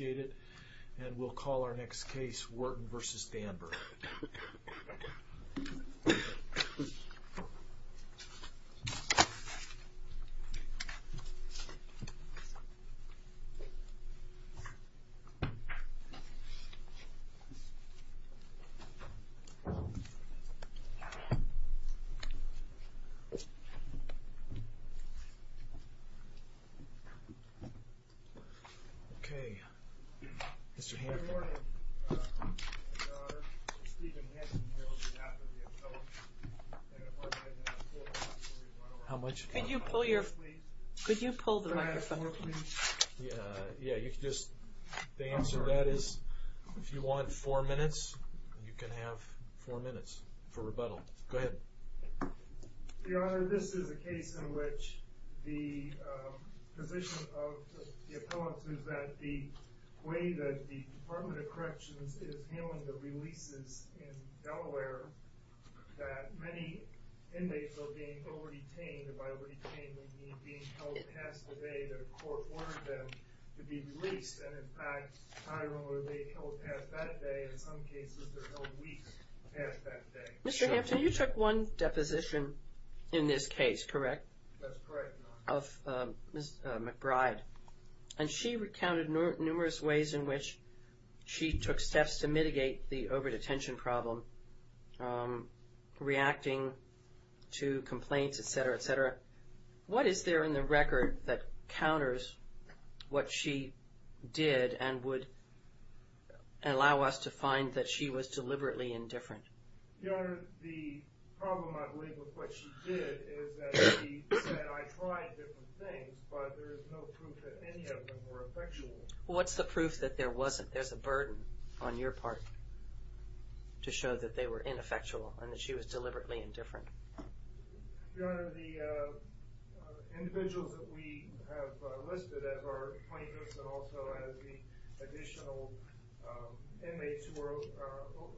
and we'll call our next case Wharton versus Danburg. Okay, Mr. Hampton. How much time do we have? Could you pull the microphone? The answer to that is if you want four minutes, you can have four minutes for rebuttal. Go ahead. Your Honor, this is a case in which the position of the appellants is that the way that the case in Delaware that many inmates are being over-detained, and by over-detained we mean being held past the day that a court ordered them to be released. And in fact, I remember they held past that day. In some cases, they're held weeks past that day. Mr. Hampton, you took one deposition in this case, correct? That's correct, Your Honor. Of Ms. McBride. And she recounted numerous ways in which she took steps to mitigate the over-detention problem, reacting to complaints, et cetera, et cetera. What is there in the record that counters what she did and would allow us to find that she was deliberately indifferent? Your Honor, the problem, I believe, with what she did is that she said, I tried different things, but there is no proof that any of them were effectual. Well, what's the proof that there wasn't? There's a burden on your part to show that they were ineffectual and that she was deliberately indifferent. Your Honor, the individuals that we have listed as our plaintiffs and also as the additional inmates who were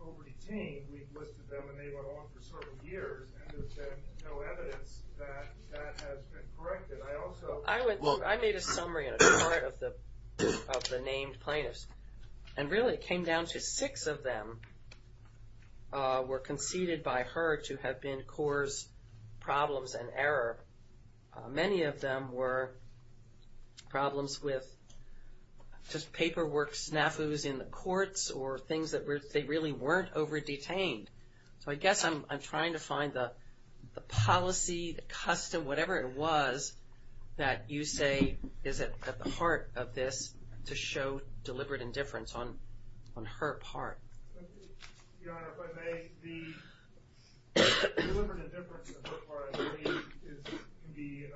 over-detained, we've listed them, and they went on for several years, and there's been no evidence that that has been corrected. I made a summary in a chart of the named plaintiffs, and really it came down to six of them were conceded by her to have been cause problems and error. Many of them were problems with just paperwork snafus in the courts or things that they really weren't over-detained. So I guess I'm trying to find the policy, the custom, whatever it was that you say is at the heart of this to show deliberate indifference on her part. Your Honor, if I may, the deliberate indifference on her part, I believe, can be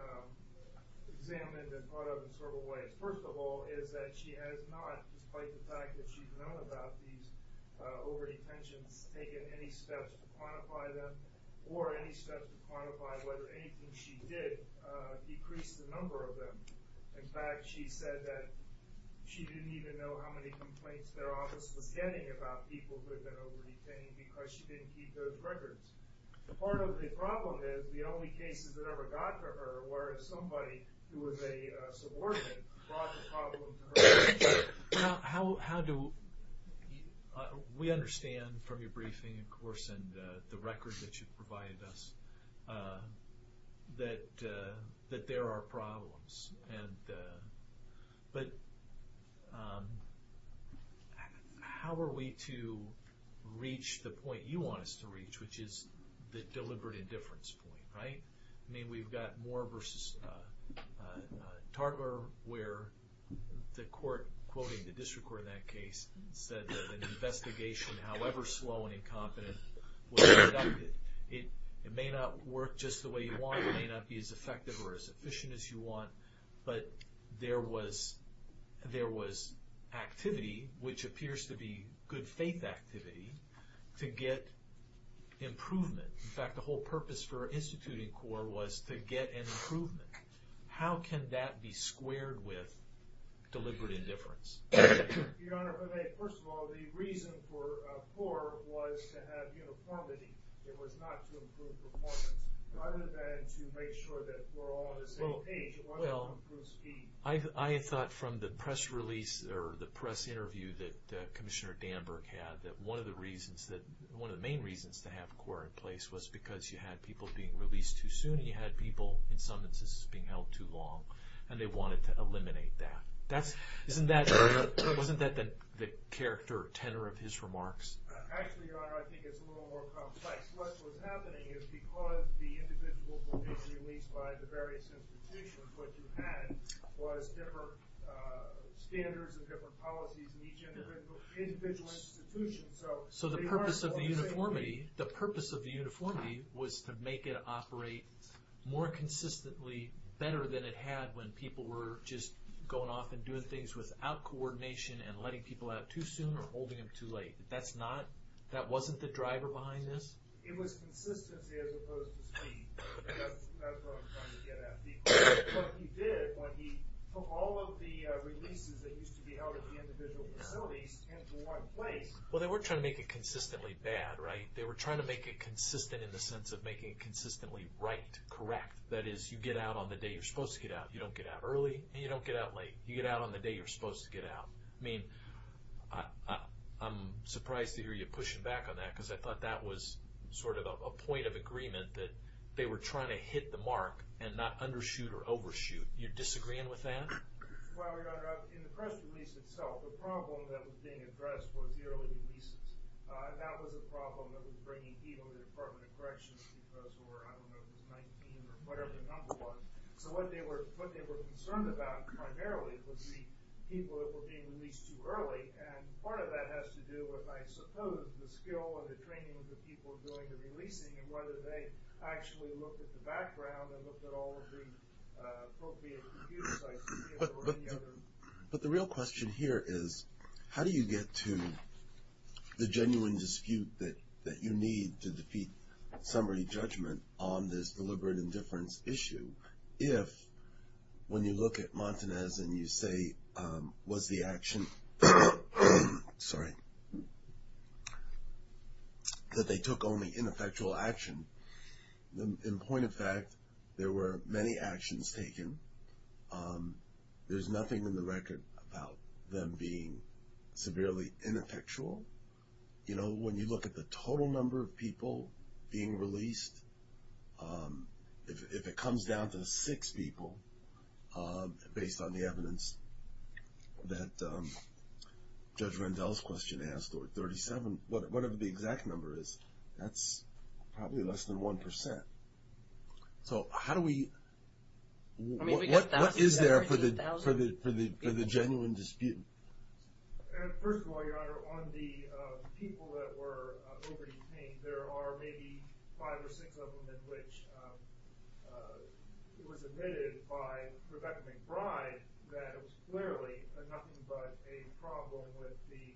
examined and thought of in several ways. First of all is that she has not, despite the fact that she's known about these over-detentions, taken any steps to quantify them or any steps to quantify whether anything she did decreased the number of them. In fact, she said that she didn't even know how many complaints their office was getting about people who had been over-detained because she didn't keep those records. Part of the problem is the only cases that ever got to her were if somebody who was a subordinate brought the problem to her. How do we understand from your briefing, of course, and the record that you've provided us, that there are problems. But how are we to reach the point you want us to reach, which is the deliberate indifference point, right? I mean, we've got Moore v. Tartler where the court, quoting the district court in that case, said that an investigation, however slow and incompetent, was conducted. It may not work just the way you want, it may not be as effective or as efficient as you want, but there was activity, which appears to be good faith activity, to get improvement. In fact, the whole purpose for instituting CORE was to get an improvement. How can that be squared with deliberate indifference? Your Honor, first of all, the reason for CORE was to have uniformity. It was not to improve performance. Rather than to make sure that we're all on the same page, it was to improve speed. I thought from the press release or the press interview that Commissioner Danburk had that one of the main reasons to have CORE in place was because you had people being released too soon and you had people, in some instances, being held too long, and they wanted to eliminate that. Wasn't that the character tenor of his remarks? Actually, Your Honor, I think it's a little more complex. What was happening is because the individuals were being released by the various institutions, what you had was different standards and different policies in each individual institution. So the purpose of the uniformity was to make it operate more consistently, better than it had when people were just going off and doing things without coordination and letting people out too soon or holding them too late. That wasn't the driver behind this? It was consistency as opposed to speed. That's what I'm trying to get at. Because he did, but he put all of the releases that used to be held at the individual facilities into one place. Well, they weren't trying to make it consistently bad, right? They were trying to make it consistent in the sense of making it consistently right, correct. That is, you get out on the day you're supposed to get out. You don't get out early and you don't get out late. You get out on the day you're supposed to get out. I mean, I'm surprised to hear you pushing back on that because I thought that was sort of a point of agreement that they were trying to hit the mark and not undershoot or overshoot. You're disagreeing with that? Well, Your Honor, in the press release itself, the problem that was being addressed was the early releases. That was a problem that was bringing heat on the Department of Corrections because we were, I don't know, it was 19 or whatever the number was. So what they were concerned about primarily was the people that were being released too early. And part of that has to do with, I suppose, the skill and the training of the people doing the releasing and whether they actually looked at the background and looked at all of the appropriate computer sites. But the real question here is how do you get to the genuine dispute that you need to defeat summary judgment on this deliberate indifference issue if when you look at Montanez and you say was the action, sorry, that they took only ineffectual action. In point of fact, there were many actions taken. There's nothing in the record about them being severely ineffectual. You know, when you look at the total number of people being released, if it comes down to six people based on the evidence that Judge Rendell's question asked, or 37, whatever the exact number is, that's probably less than 1%. So how do we, what is there for the genuine dispute? First of all, Your Honor, on the people that were over-detained, there are maybe five or six of them in which it was admitted by Rebecca McBride that it was clearly nothing but a problem with the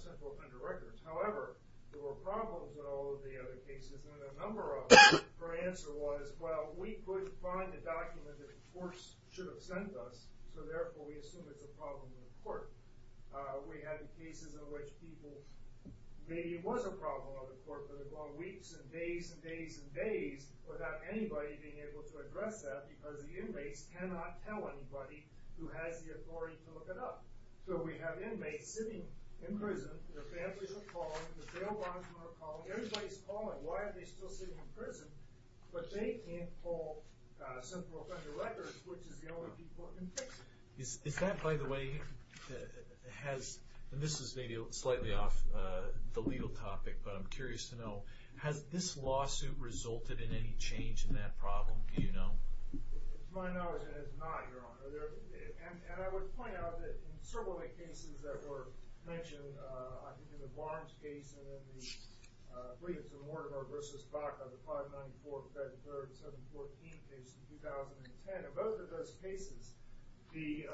central offender records. However, there were problems in all of the other cases, and a number of them her answer was, well, we couldn't find the document that the courts should have sent us, so therefore we assume it's a problem in the court. We had the cases in which people, maybe it was a problem in the court, but it went weeks and days and days and days without anybody being able to address that because the inmates cannot tell anybody who has the authority to look it up. So we have inmates sitting in prison, their families are calling, the jail bondsmen are calling, but they can't pull central offender records, which is the only people that can fix it. Is that, by the way, has, and this is maybe slightly off the legal topic, but I'm curious to know, has this lawsuit resulted in any change in that problem, do you know? To my knowledge, it has not, Your Honor. And I would point out that in several of the cases that were mentioned, I think in the Barnes case and in the Williams and Mortimer v. Baca, the 594th, 33rd, and 714th cases in 2010, in both of those cases, the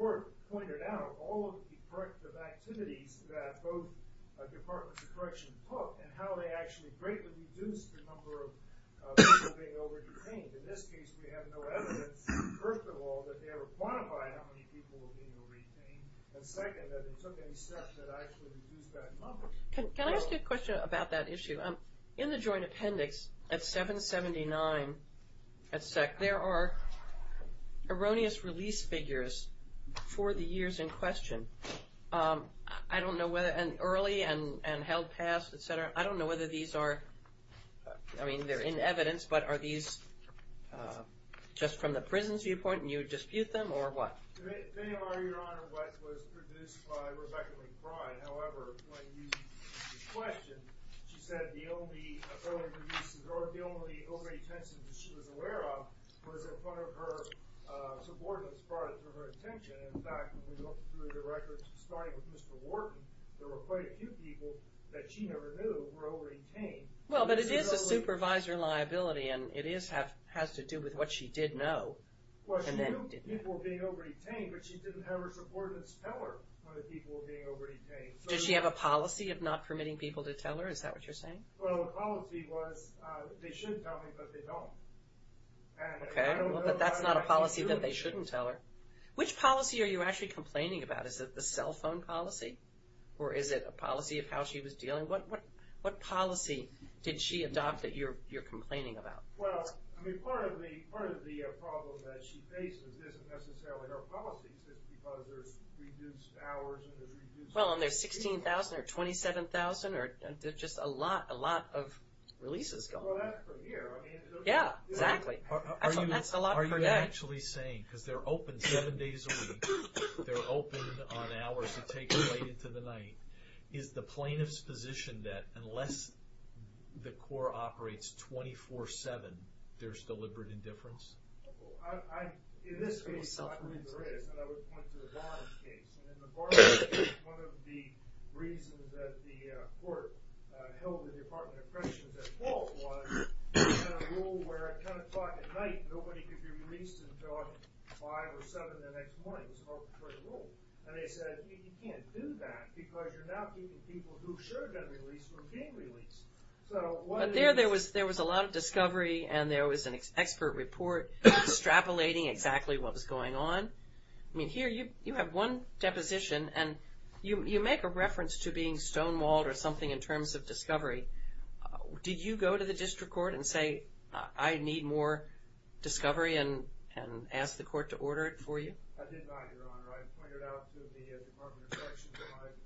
court pointed out all of the corrective activities that both departments of correction took and how they actually greatly reduced the number of people being over-detained. In this case, we have no evidence, first of all, that they ever quantified how many people were being over-detained, and second, that they took any steps that actually reduced that number. Can I ask you a question about that issue? In the joint appendix at 779, there are erroneous release figures for the years in question. I don't know whether, and early and held past, et cetera, I don't know whether these are, I mean, they're in evidence, but are these just from the prison's viewpoint and you dispute them, or what? Your Honor, what was produced by Rebecca McBride, however, when you questioned, she said the only overly-intensive that she was aware of was in front of her subordinates, as far as her attention. In fact, when we looked through the records, starting with Mr. Wharton, there were quite a few people that she never knew were over-detained. Well, but it is a supervisor liability, and it has to do with what she did know. Well, she knew people were being over-detained, but she didn't have her subordinates tell her that people were being over-detained. Did she have a policy of not permitting people to tell her? Is that what you're saying? Well, the policy was they should tell me, but they don't. Okay, well, but that's not a policy that they shouldn't tell her. Which policy are you actually complaining about? Is it the cell phone policy, or is it a policy of how she was dealing? What policy did she adopt that you're complaining about? Well, I mean, part of the problem that she faces isn't necessarily her policy. It's just because there's reduced hours and there's reduced... Well, and there's 16,000 or 27,000, or just a lot of releases going on. Well, that's from here. Yeah, exactly. That's a lot per day. Are you actually saying, because they're open seven days a week, they're open on hours that take you late into the night, is the plaintiff's position that unless the court operates 24-7, there's deliberate indifference? In this case, I believe there is, and I would point to the Barnes case. In the Barnes case, one of the reasons that the court held the Department of Corrections at fault was they had a rule where at 10 o'clock at night, nobody could be released until 5 or 7 the next morning. It was an arbitrary rule. And they said, you can't do that because you're now keeping people who should have been released from being released. But there was a lot of discovery, and there was an expert report extrapolating exactly what was going on. I mean, here you have one deposition, and you make a reference to being stonewalled or something in terms of discovery. Did you go to the district court and say, I need more discovery, and ask the court to order it for you? I did not, Your Honor. I pointed out to the Department of Corrections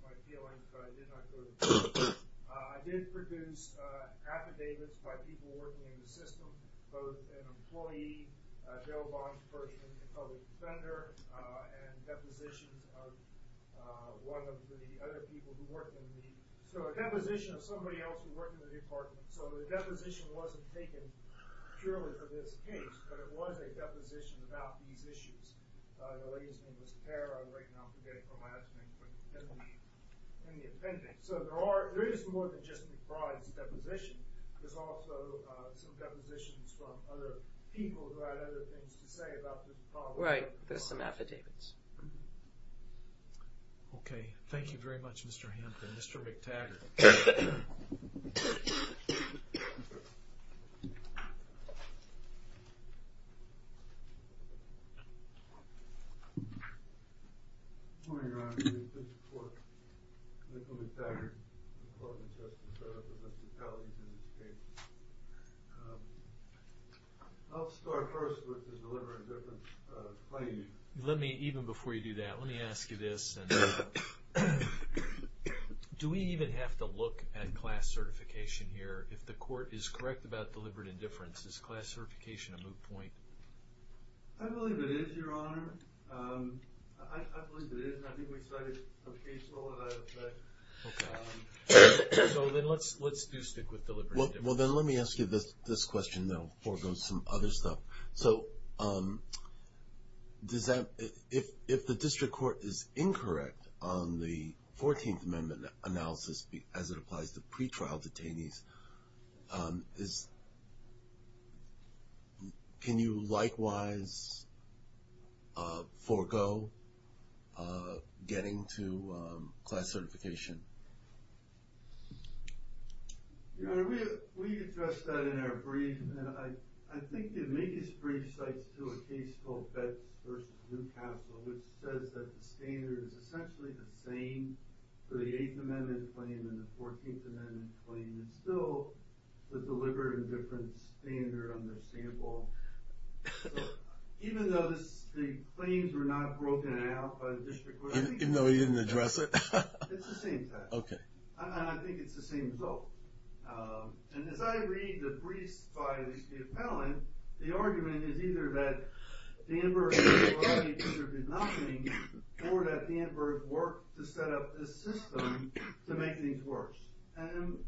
my feeling, but I did not go to the district court. I did produce affidavits by people working in the system, both an employee, a bail bond person, a public defender, and depositions of one of the other people who worked in the department. So a deposition of somebody else who worked in the department. So the deposition wasn't taken purely for this case, but it was a deposition about these issues. The lady's name was Tara. I'm forgetting her last name, but it's in the appendix. So there is more than just McBride's deposition. There's also some depositions from other people who had other things to say about the department. Right. There's some affidavits. Okay. Thank you very much, Mr. Hampton. Mr. McTaggart. Good morning, Your Honor. I'm from the District Court. Michael McTaggart. I'm a law defense justice. I represent the counties in this case. I'll start first with the delivery of different claims. Even before you do that, let me ask you this. Do we even have to look at class certification here? If the court is correct about deliberate indifference, is class certification a moot point? I believe it is, Your Honor. I believe it is, and I think we cite it occasionally. So then let's do stick with deliberate indifference. Well, then let me ask you this question, though, before we go to some other stuff. So if the District Court is incorrect on the 14th Amendment analysis as it applies to pretrial detainees, can you likewise forego getting to class certification? Your Honor, we addressed that in our brief, and I think the biggest brief cites, too, a case called Betz v. Newcastle, which says that the standard is essentially the same for the 8th Amendment claim and the 14th Amendment claim. It's still the deliberate indifference standard on their sample. So even though the claims were not broken out by the District Court, Even though he didn't address it? It's the same thing. Okay. And I think it's the same result. And as I read the briefs by the appellant, the argument is either that Danburg was right because there was nothing, or that Danburg worked to set up this system to make things worse. And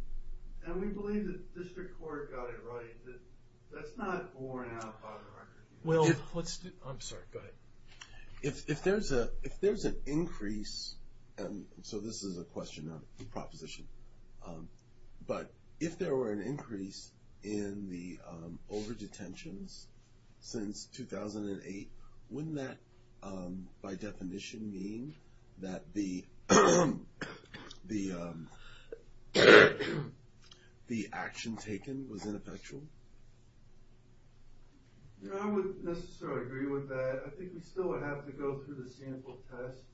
we believe that the District Court got it right. That's not borne out by the record. Well, let's do, I'm sorry, go ahead. If there's an increase, and so this is a question, not a proposition, but if there were an increase in the over-detentions since 2008, wouldn't that by definition mean that the action taken was ineffectual? You know, I wouldn't necessarily agree with that. I think we still would have to go through the sample test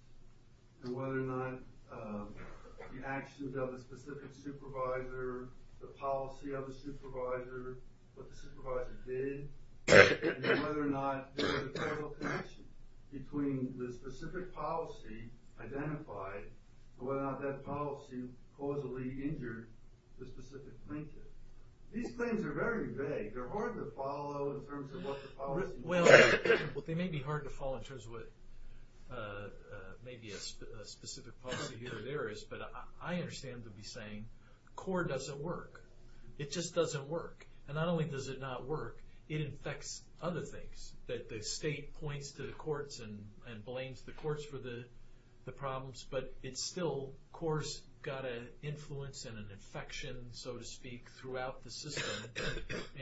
and whether or not the actions of the specific supervisor, the policy of the supervisor, what the supervisor did, and then whether or not there was a parallel connection between the specific policy identified and whether or not that policy causally injured the specific plaintiff. These claims are very vague. They're hard to follow in terms of what the policy was. Well, they may be hard to follow in terms of what maybe a specific policy here or there is, but I understand them to be saying CORE doesn't work. It just doesn't work. And not only does it not work, it infects other things, that the state points to the courts and blames the courts for the problems, but it's still CORE's got an influence and an infection, so to speak, throughout the system,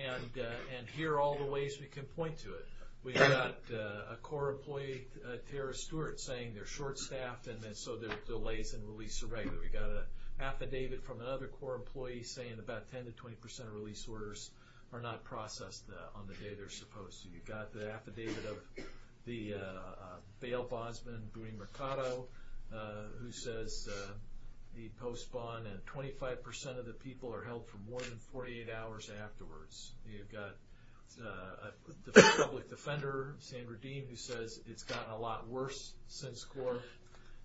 and here are all the ways we can point to it. We've got a CORE employee, Tara Stewart, saying they're short-staffed and so their delays in release are regular. We've got an affidavit from another CORE employee saying about 10% to 20% of release orders are not processed on the day they're supposed to. You've got the affidavit of the bail bondsman, Booney Mercado, who says the post bond and 25% of the people are held for more than 48 hours afterwards. You've got the public defender, Sandra Dean, who says it's gotten a lot worse since CORE.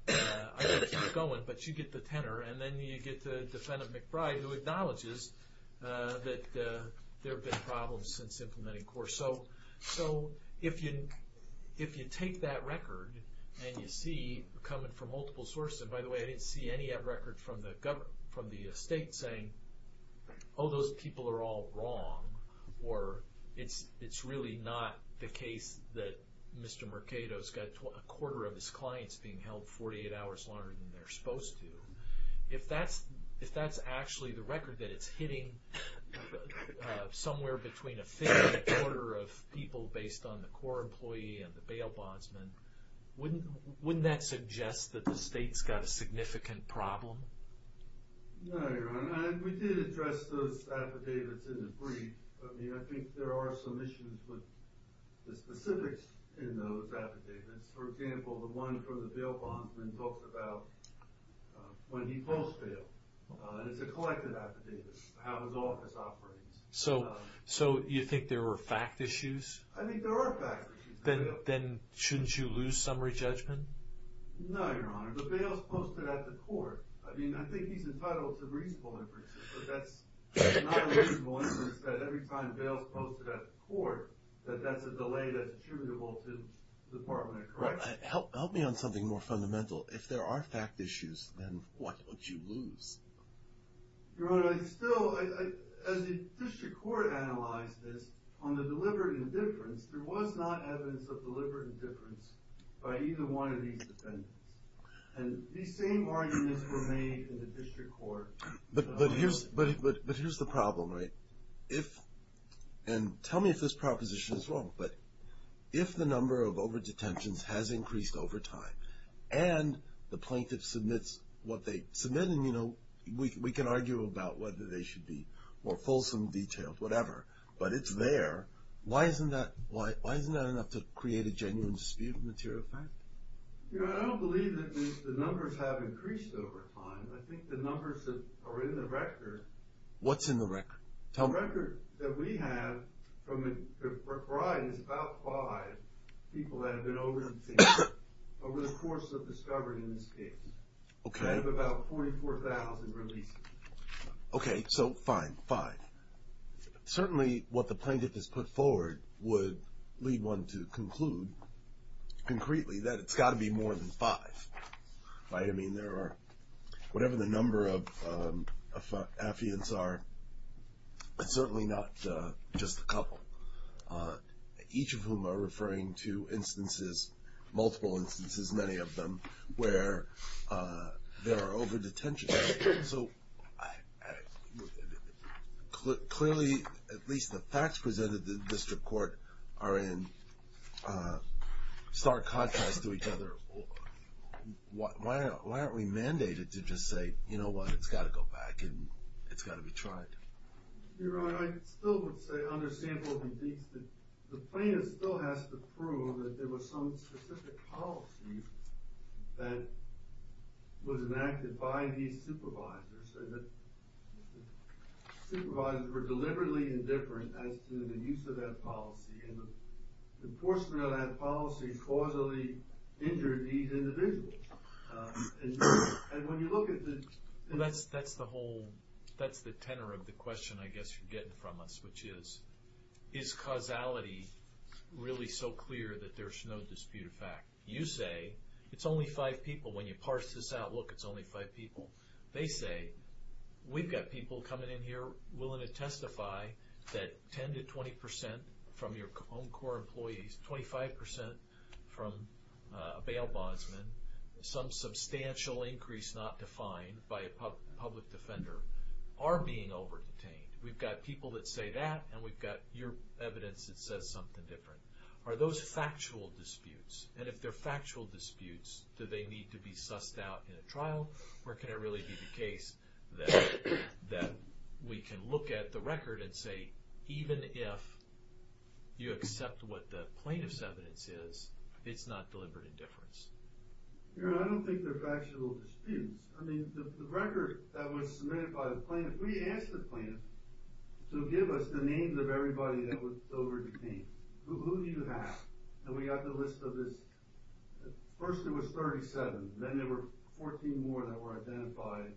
I won't keep going, but you get the tenor, and then you get the defendant, McBride, who acknowledges that there have been problems since implementing CORE. So if you take that record and you see it coming from multiple sources, and by the way, I didn't see any of that record from the state saying, oh, those people are all wrong, or it's really not the case that Mr. Mercado has got a quarter of his clients being held 48 hours longer than they're supposed to. If that's actually the record that it's hitting somewhere between a fifth and a quarter of people based on the CORE employee and the bail bondsman, wouldn't that suggest that the state's got a significant problem? No, Your Honor. We did address those affidavits in the brief. I mean, I think there are some issues with the specifics in those affidavits. For example, the one from the bail bondsman talks about when he posts bail. It's a collected affidavit, how his office operates. So you think there were fact issues? I think there are fact issues. Then shouldn't you lose summary judgment? No, Your Honor. The bail's posted at the court. I mean, I think he's entitled to reasonable inferences, but that's not a reasonable inference that every time bail's posted at the court, that that's a delay that's attributable to the Department of Corrections. Help me on something more fundamental. If there are fact issues, then why don't you lose? Your Honor, I still, as the district court analyzed this, on the deliberate indifference, there was not evidence of deliberate indifference by either one of these defendants. And these same arguments were made in the district court. But here's the problem, right? And tell me if this proposition is wrong, but if the number of overdetentions has increased over time and the plaintiff submits what they submit, and we can argue about whether they should be more fulsome, detailed, whatever, but it's there, why isn't that enough to create a genuine dispute of material fact? Your Honor, I don't believe that the numbers have increased over time. I think the numbers that are in the record… What's in the record? Tell me. The record that we have from Brian is about five people that have been overdosing over the course of discovery in this case. Okay. We have about 44,000 releases. Okay, so fine, five. Certainly what the plaintiff has put forward would lead one to conclude concretely that it's got to be more than five, right? I mean, there are, whatever the number of affiants are, it's certainly not just a couple, each of whom are referring to instances, multiple instances, many of them, where there are overdetentions. So clearly, at least the facts presented in the district court are in stark contrast to each other. Why aren't we mandated to just say, you know what, it's got to go back and it's got to be tried? Your Honor, I still would say, under sample of evidence, that the plaintiff still has to prove that there was some specific policy that was enacted by these supervisors, and that the supervisors were deliberately indifferent as to the use of that policy, and the enforcement of that policy causally injured these individuals. And when you look at the... That's the whole, that's the tenor of the question I guess you're getting from us, which is, is causality really so clear that there's no dispute of fact? You say, it's only five people. When you parse this out, look, it's only five people. You say that 10 to 20 percent from your own core employees, 25 percent from a bail bondsman, some substantial increase not defined by a public defender, are being overdetained. We've got people that say that, and we've got your evidence that says something different. Are those factual disputes? And if they're factual disputes, do they need to be sussed out in a trial? Or can it really be the case that we can look at the record and say, even if you accept what the plaintiff's evidence is, it's not deliberate indifference? I don't think they're factual disputes. I mean, the record that was submitted by the plaintiff, we asked the plaintiff to give us the names of everybody that was overdetained. Who do you have? And we got the list of this. First it was 37. Then there were 14 more that were identified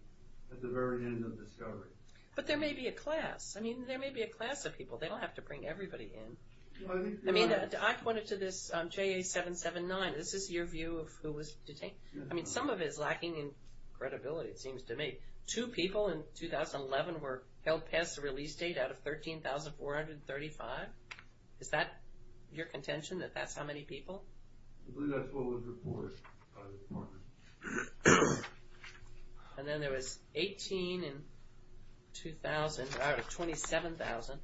at the very end of discovery. But there may be a class. I mean, there may be a class of people. They don't have to bring everybody in. I mean, I pointed to this JA-779. Is this your view of who was detained? I mean, some of it is lacking in credibility, it seems to me. Two people in 2011 were held past the release date out of 13,435. Is that your contention, that that's how many people? I believe that's what was reported by the department. And then there was 18 in 2000 out of 27,000.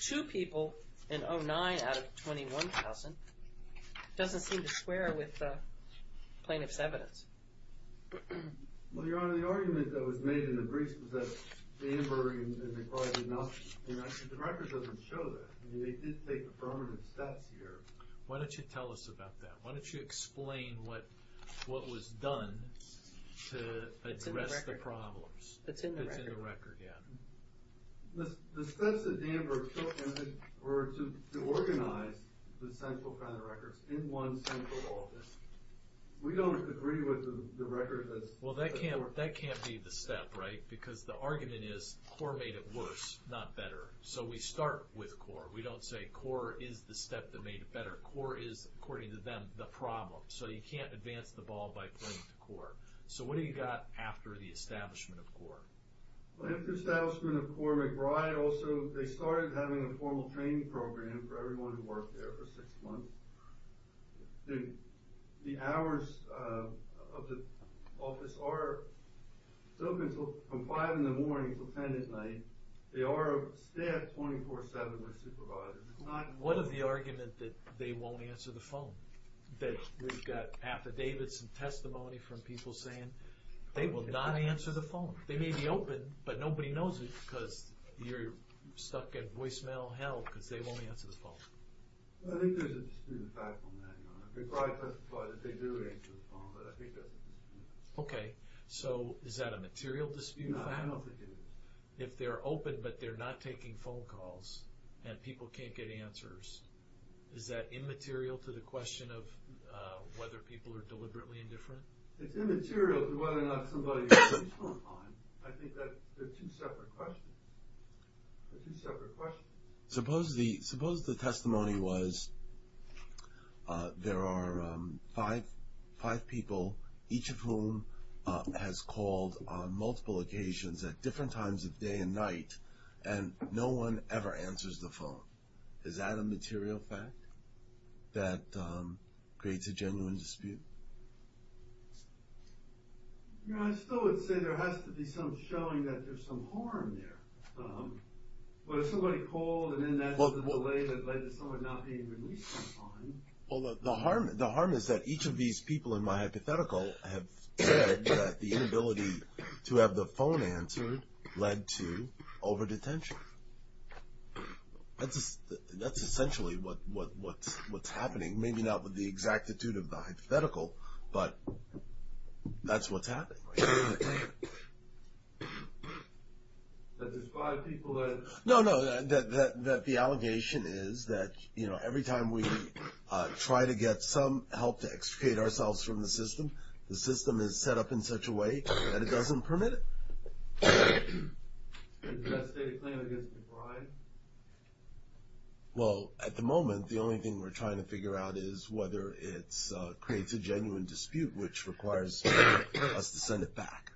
Two people in 2009 out of 21,000. It doesn't seem to square with the plaintiff's evidence. Well, Your Honor, the argument that was made in the briefs was that the Amber and the Clyde did not, I mean, actually the record doesn't show that. I mean, they did take affirmative steps here. Why don't you tell us about that? Why don't you explain what was done to address the problems? It's in the record. It's in the record, yeah. The steps that Amber took were to organize the central kind of records in one central office. We don't agree with the record that's... Well, that can't be the step, right? Because the argument is, CORE made it worse, not better. So we start with CORE. We don't say CORE is the step that made it better. CORE is, according to them, the problem. So you can't advance the ball by playing to CORE. So what do you got after the establishment of CORE? After the establishment of CORE, McBride also, they started having a formal training program for everyone who worked there for six months. The hours of the office are from 5 in the morning until 10 at night. They stay up 24-7 with supervisors. What of the argument that they won't answer the phone? That we've got affidavits and testimony from people saying they will not answer the phone? They may be open, but nobody knows it because you're stuck at voicemail hell because they won't answer the phone. I think there's a dispute of fact on that, Your Honor. McBride testified that they do answer the phone, but I think that's a dispute of fact. Okay, so is that a material dispute of fact? No, I don't think it is. If they're open, but they're not taking phone calls and people can't get answers, is that immaterial to the question of whether people are deliberately indifferent? It's immaterial to whether or not somebody answers the phone. I think that's a two-separate question. A two-separate question. Suppose the testimony was there are five people, each of whom has called on multiple occasions at different times of day and night, and no one ever answers the phone. Is that a material fact that creates a genuine dispute? I still would say there has to be some showing that there's some harm there. But if somebody called, and then that's the delay that led to someone not being released on time... Well, the harm is that each of these people in my hypothetical have said that the inability to have the phone answered led to over-detention. That's essentially what's happening. Maybe not with the exactitude of the hypothetical, but that's what's happening. That there's five people that... No, no, that the allegation is that every time we try to get some help to extricate ourselves from the system, the system is set up in such a way that it doesn't permit it. Well, at the moment, the only thing we're trying to figure out is whether it creates a genuine dispute, which requires us to send it back.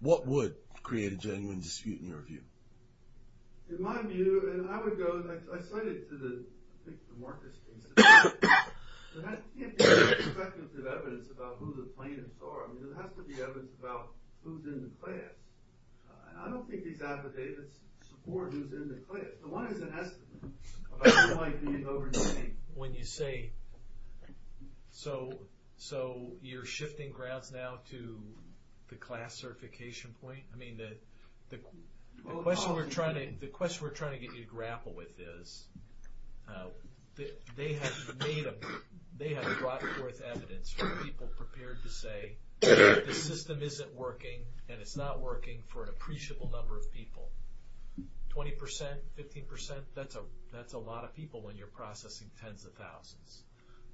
What would create a genuine dispute in your view? There can't be speculative evidence about who the plaintiffs are. There has to be evidence about who's in the class. And I don't think these affidavits support who's in the class. The one is an estimate about who might be in over-detention. When you say... So you're shifting grounds now to the class certification point? I mean, the question we're trying to... The question we're trying to get you to grapple with is they have brought forth evidence from people prepared to say the system isn't working and it's not working for an appreciable number of people. 20%, 15%, that's a lot of people when you're processing tens of thousands.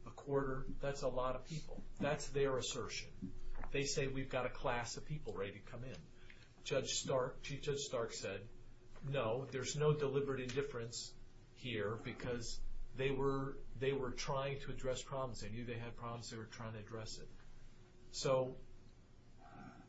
A quarter, that's a lot of people. That's their assertion. They say we've got a class of people ready to come in. Chief Judge Stark said, no, there's no deliberate indifference here because they were trying to address problems. They knew they had problems. They were trying to address it. So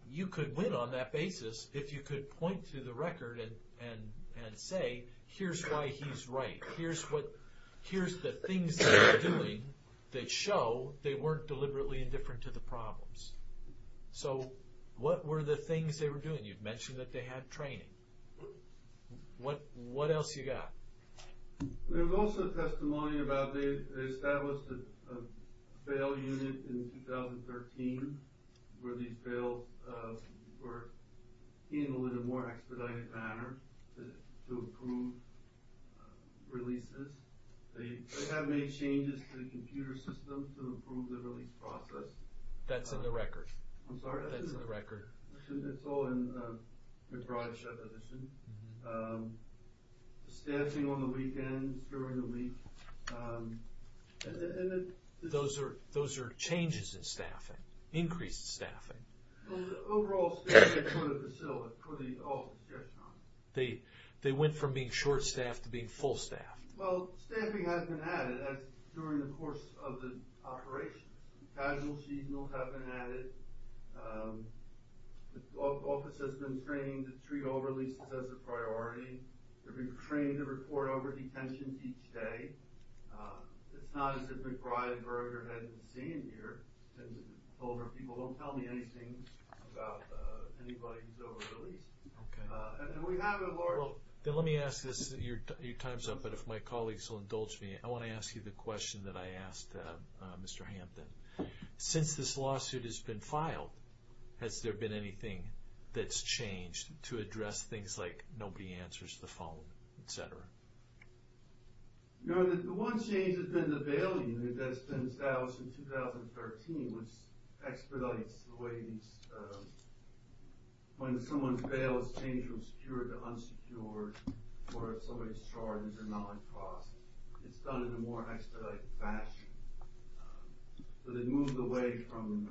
you could win on that basis if you could point to the record and say, here's why he's right. Here's the things that they're doing that show they weren't deliberately indifferent to the problems. So what were the things they were doing? And you've mentioned that they had training. What else you got? There was also testimony about they established a bail unit in 2013 where these bails were handled in a more expedited manner to improve releases. They have made changes to the computer system to improve the release process. That's in the record. I'm sorry, that's in the record. It's all in McBride's reposition. Staffing on the weekends, during the week. Those are changes in staffing, increased staffing. The overall staffing for the facility, for the office, yes. They went from being short-staffed to being full-staffed. Well, staffing has been added during the course of the operation. Casual seasonals have been added. The office has been trained to treat all releases as a priority. They've been trained to report overdetention each day. It's not as if McBride burned her head in the sand here. Since older people don't tell me anything about anybody who's overreleased. And we have a large... Well, let me ask this. Your time's up, but if my colleagues will indulge me, I want to ask you the question that I asked Mr. Hampton. Since this lawsuit has been filed, has there been anything that's changed to address things like nobody answers the phone, et cetera? No, the one change has been the bail unit that's been established in 2013, which expedites the way these... When someone's bail is changed from secured to unsecured, or if somebody's charged or not on cross, it's done in a more expedited fashion. But it moves away from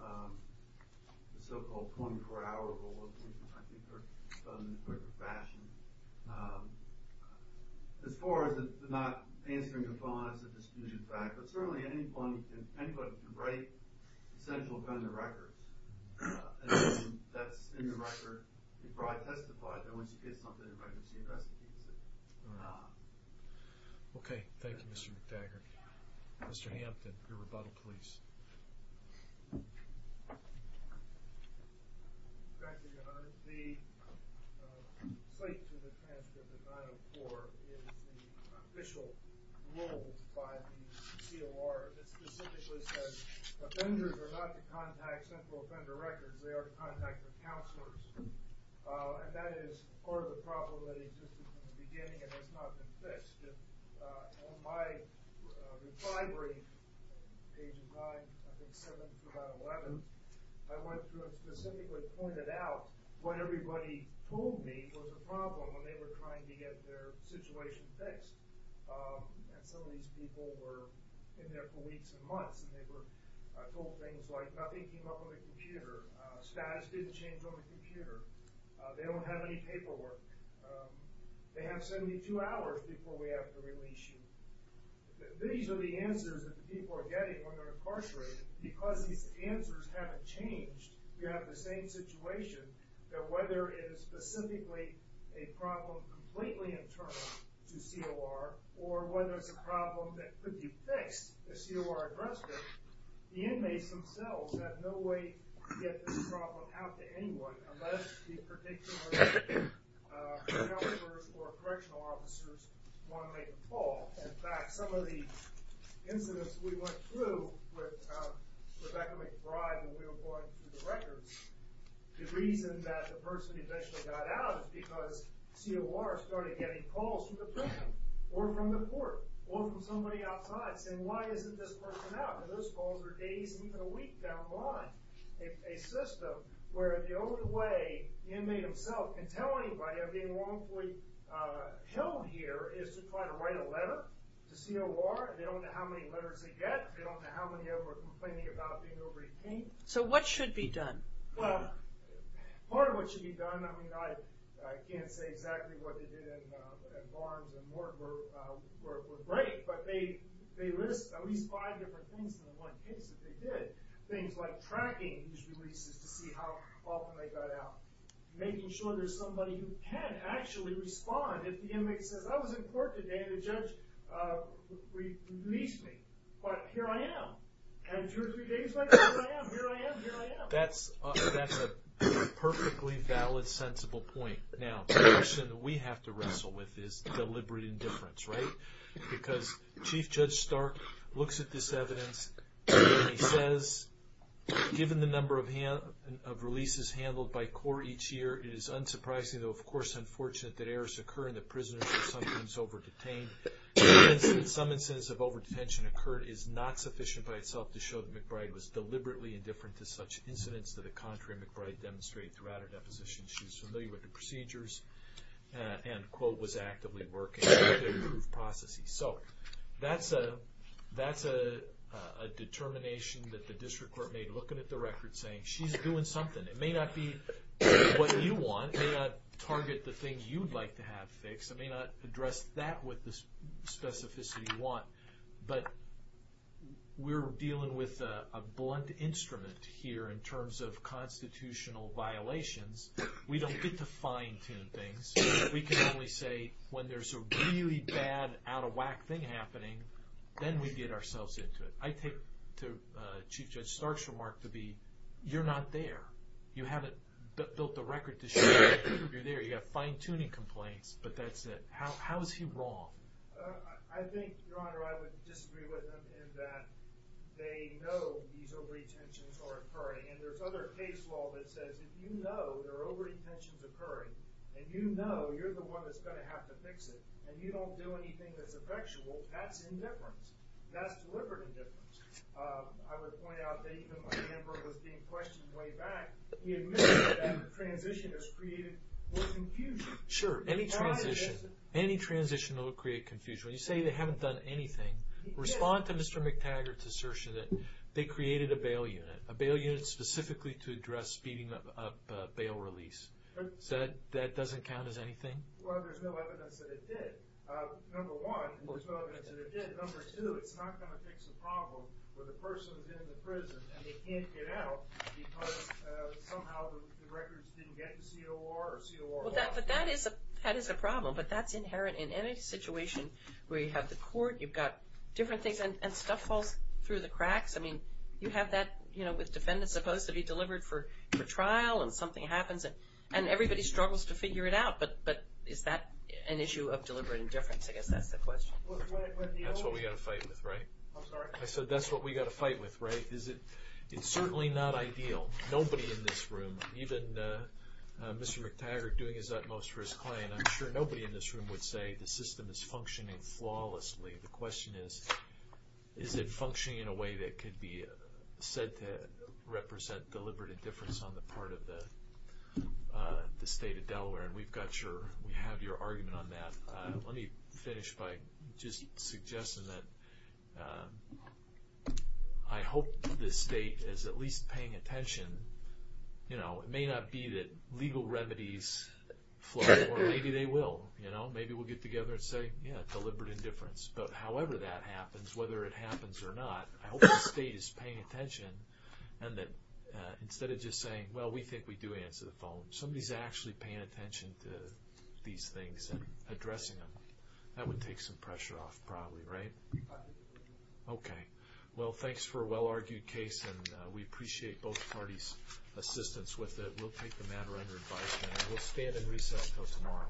the so-called 24-hour rule and I think it's done in a quicker fashion. As far as not answering the phone is a disputed fact, but certainly anybody can break essential kind of records. And that's in the record. McBride testified that once you get something, the registry investigates it. Okay, thank you, Mr. McTaggart. Mr. Hampton, your rebuttal, please. Thank you, Your Honor. The slate to the transcript of 904 is the official rules by the COR that specifically says offenders are not to contact central offender records, they are to contact their counselors. And that is part of the problem that existed in the beginning and has not been fixed. In my reply brief, page and a half, I think 7 through about 11, I went through and specifically pointed out what everybody told me was a problem when they were trying to get their situation fixed. And some of these people were in there for weeks and months and they were told things like nothing came up on the computer, status didn't change on the computer, they don't have any paperwork, they have 72 hours before we have to release you. These are the answers that people are getting when they're incarcerated. Because these answers haven't changed, you have the same situation that whether it is specifically a problem completely internal to COR or whether it's a problem that could be fixed, the COR addressed it, the inmates themselves have no way to get this problem out to anyone unless the particular counselors or correctional officers want to make a call. In fact, some of the incidents we went through with Rebecca McBride when we were going through the records, the reason that the person eventually got out is because COR started getting calls from the prison or from the court or from somebody outside saying why isn't this person out? And those calls were days and even a week down the line. A system where the only way the inmate himself can tell anybody of being wrongfully held here is to try to write a letter to COR. They don't know how many letters they get, they don't know how many of them are complaining about being over-retained. So what should be done? Part of what should be done, I can't say exactly what they did at Barnes and Morton were great, but they list at least five different things in the one case that they did. Things like tracking these releases to see how often they got out. Making sure there's somebody who can actually respond if the inmate says I was in court today and the judge released me, but here I am. And two or three days later, here I am, here I am, here I am. That's a perfectly valid, sensible point. Now, the question that we have to wrestle with is deliberate indifference, right? Because Chief Judge Stark looks at this evidence and he says, given the number of releases handled by COR each year, it is unsurprising, though of course unfortunate, that errors occur in the prisonership sometimes over-detained. Some instance of over-detention occurred is not sufficient by itself to show that McBride was deliberately indifferent to such incidents to the contrary McBride demonstrated throughout her deposition. She's familiar with the procedures and quote, was actively working to improve processes. So that's a determination that the district court made looking at the record saying she's doing something. It may not be what you want. It may not target the things you'd like to have fixed. It may not address that with the specificity you want. But we're dealing with a blunt instrument here in terms of constitutional violations. We don't get to fine tune things. We can only say when there's a really bad out of whack thing happening then we get ourselves into it. I take to Chief Judge Stark's remark to be you're not there. You haven't built the record to show that you're there. You have fine tuning complaints but that's it. How is he wrong? I think, Your Honor, I would disagree with him in that they know these over-detentions are occurring and there's other case law that says if you know there are over-detentions occurring and you know you're the one that's going to have to fix it and you don't do anything that's effectual, that's indifference. That's deliberate indifference. I would point out that even when Amber was being questioned way back, we admitted that that transition has created more confusion. Sure, any transition. Any transition will create confusion. When you say they haven't done anything, respond to Mr. McTaggart's assertion that they created a bail unit. A bail unit specifically to address speeding up bail release. So that doesn't count as anything? Well, there's no evidence that it did. Number one, there's no evidence that it did. Number two, it's not going to fix the problem where the person's in the prison and they can't get out because somehow the records didn't get to COR or COR1. But that is a problem, but that's inherent in any situation where you have the court, you've got different things, and stuff falls through the cracks. I mean, you have that, you know, with defendants supposed to be delivered for trial and something happens and everybody struggles to figure it out, but is that an issue of deliberate indifference? I guess that's the question. That's what we've got to fight with, right? I'm sorry? I said that's what we've got to fight with, right? It's certainly not ideal. Nobody in this room, even Mr. McTaggart doing his utmost for his client, I'm sure nobody in this room would say the system is functioning flawlessly. The question is, is it functioning in a way that could be said to represent deliberate indifference on the part of the state of Delaware? And we've got your, we have your argument on that. Let me finish by just suggesting that I hope the state is at least paying attention. You know, it may not be that legal remedies flow, or maybe they will, you know? Maybe we'll get together and say, yeah, deliberate indifference. But however that happens, whether it happens or not, I hope the state is paying attention and that instead of just saying, well, we think we do answer the phone, somebody's actually paying attention to these things and addressing them. That would take some pressure off probably, right? Okay. Well, thanks for a well-argued case, and we appreciate both parties' assistance with it. We'll take the matter under advisement, and we'll stand in recess until tomorrow.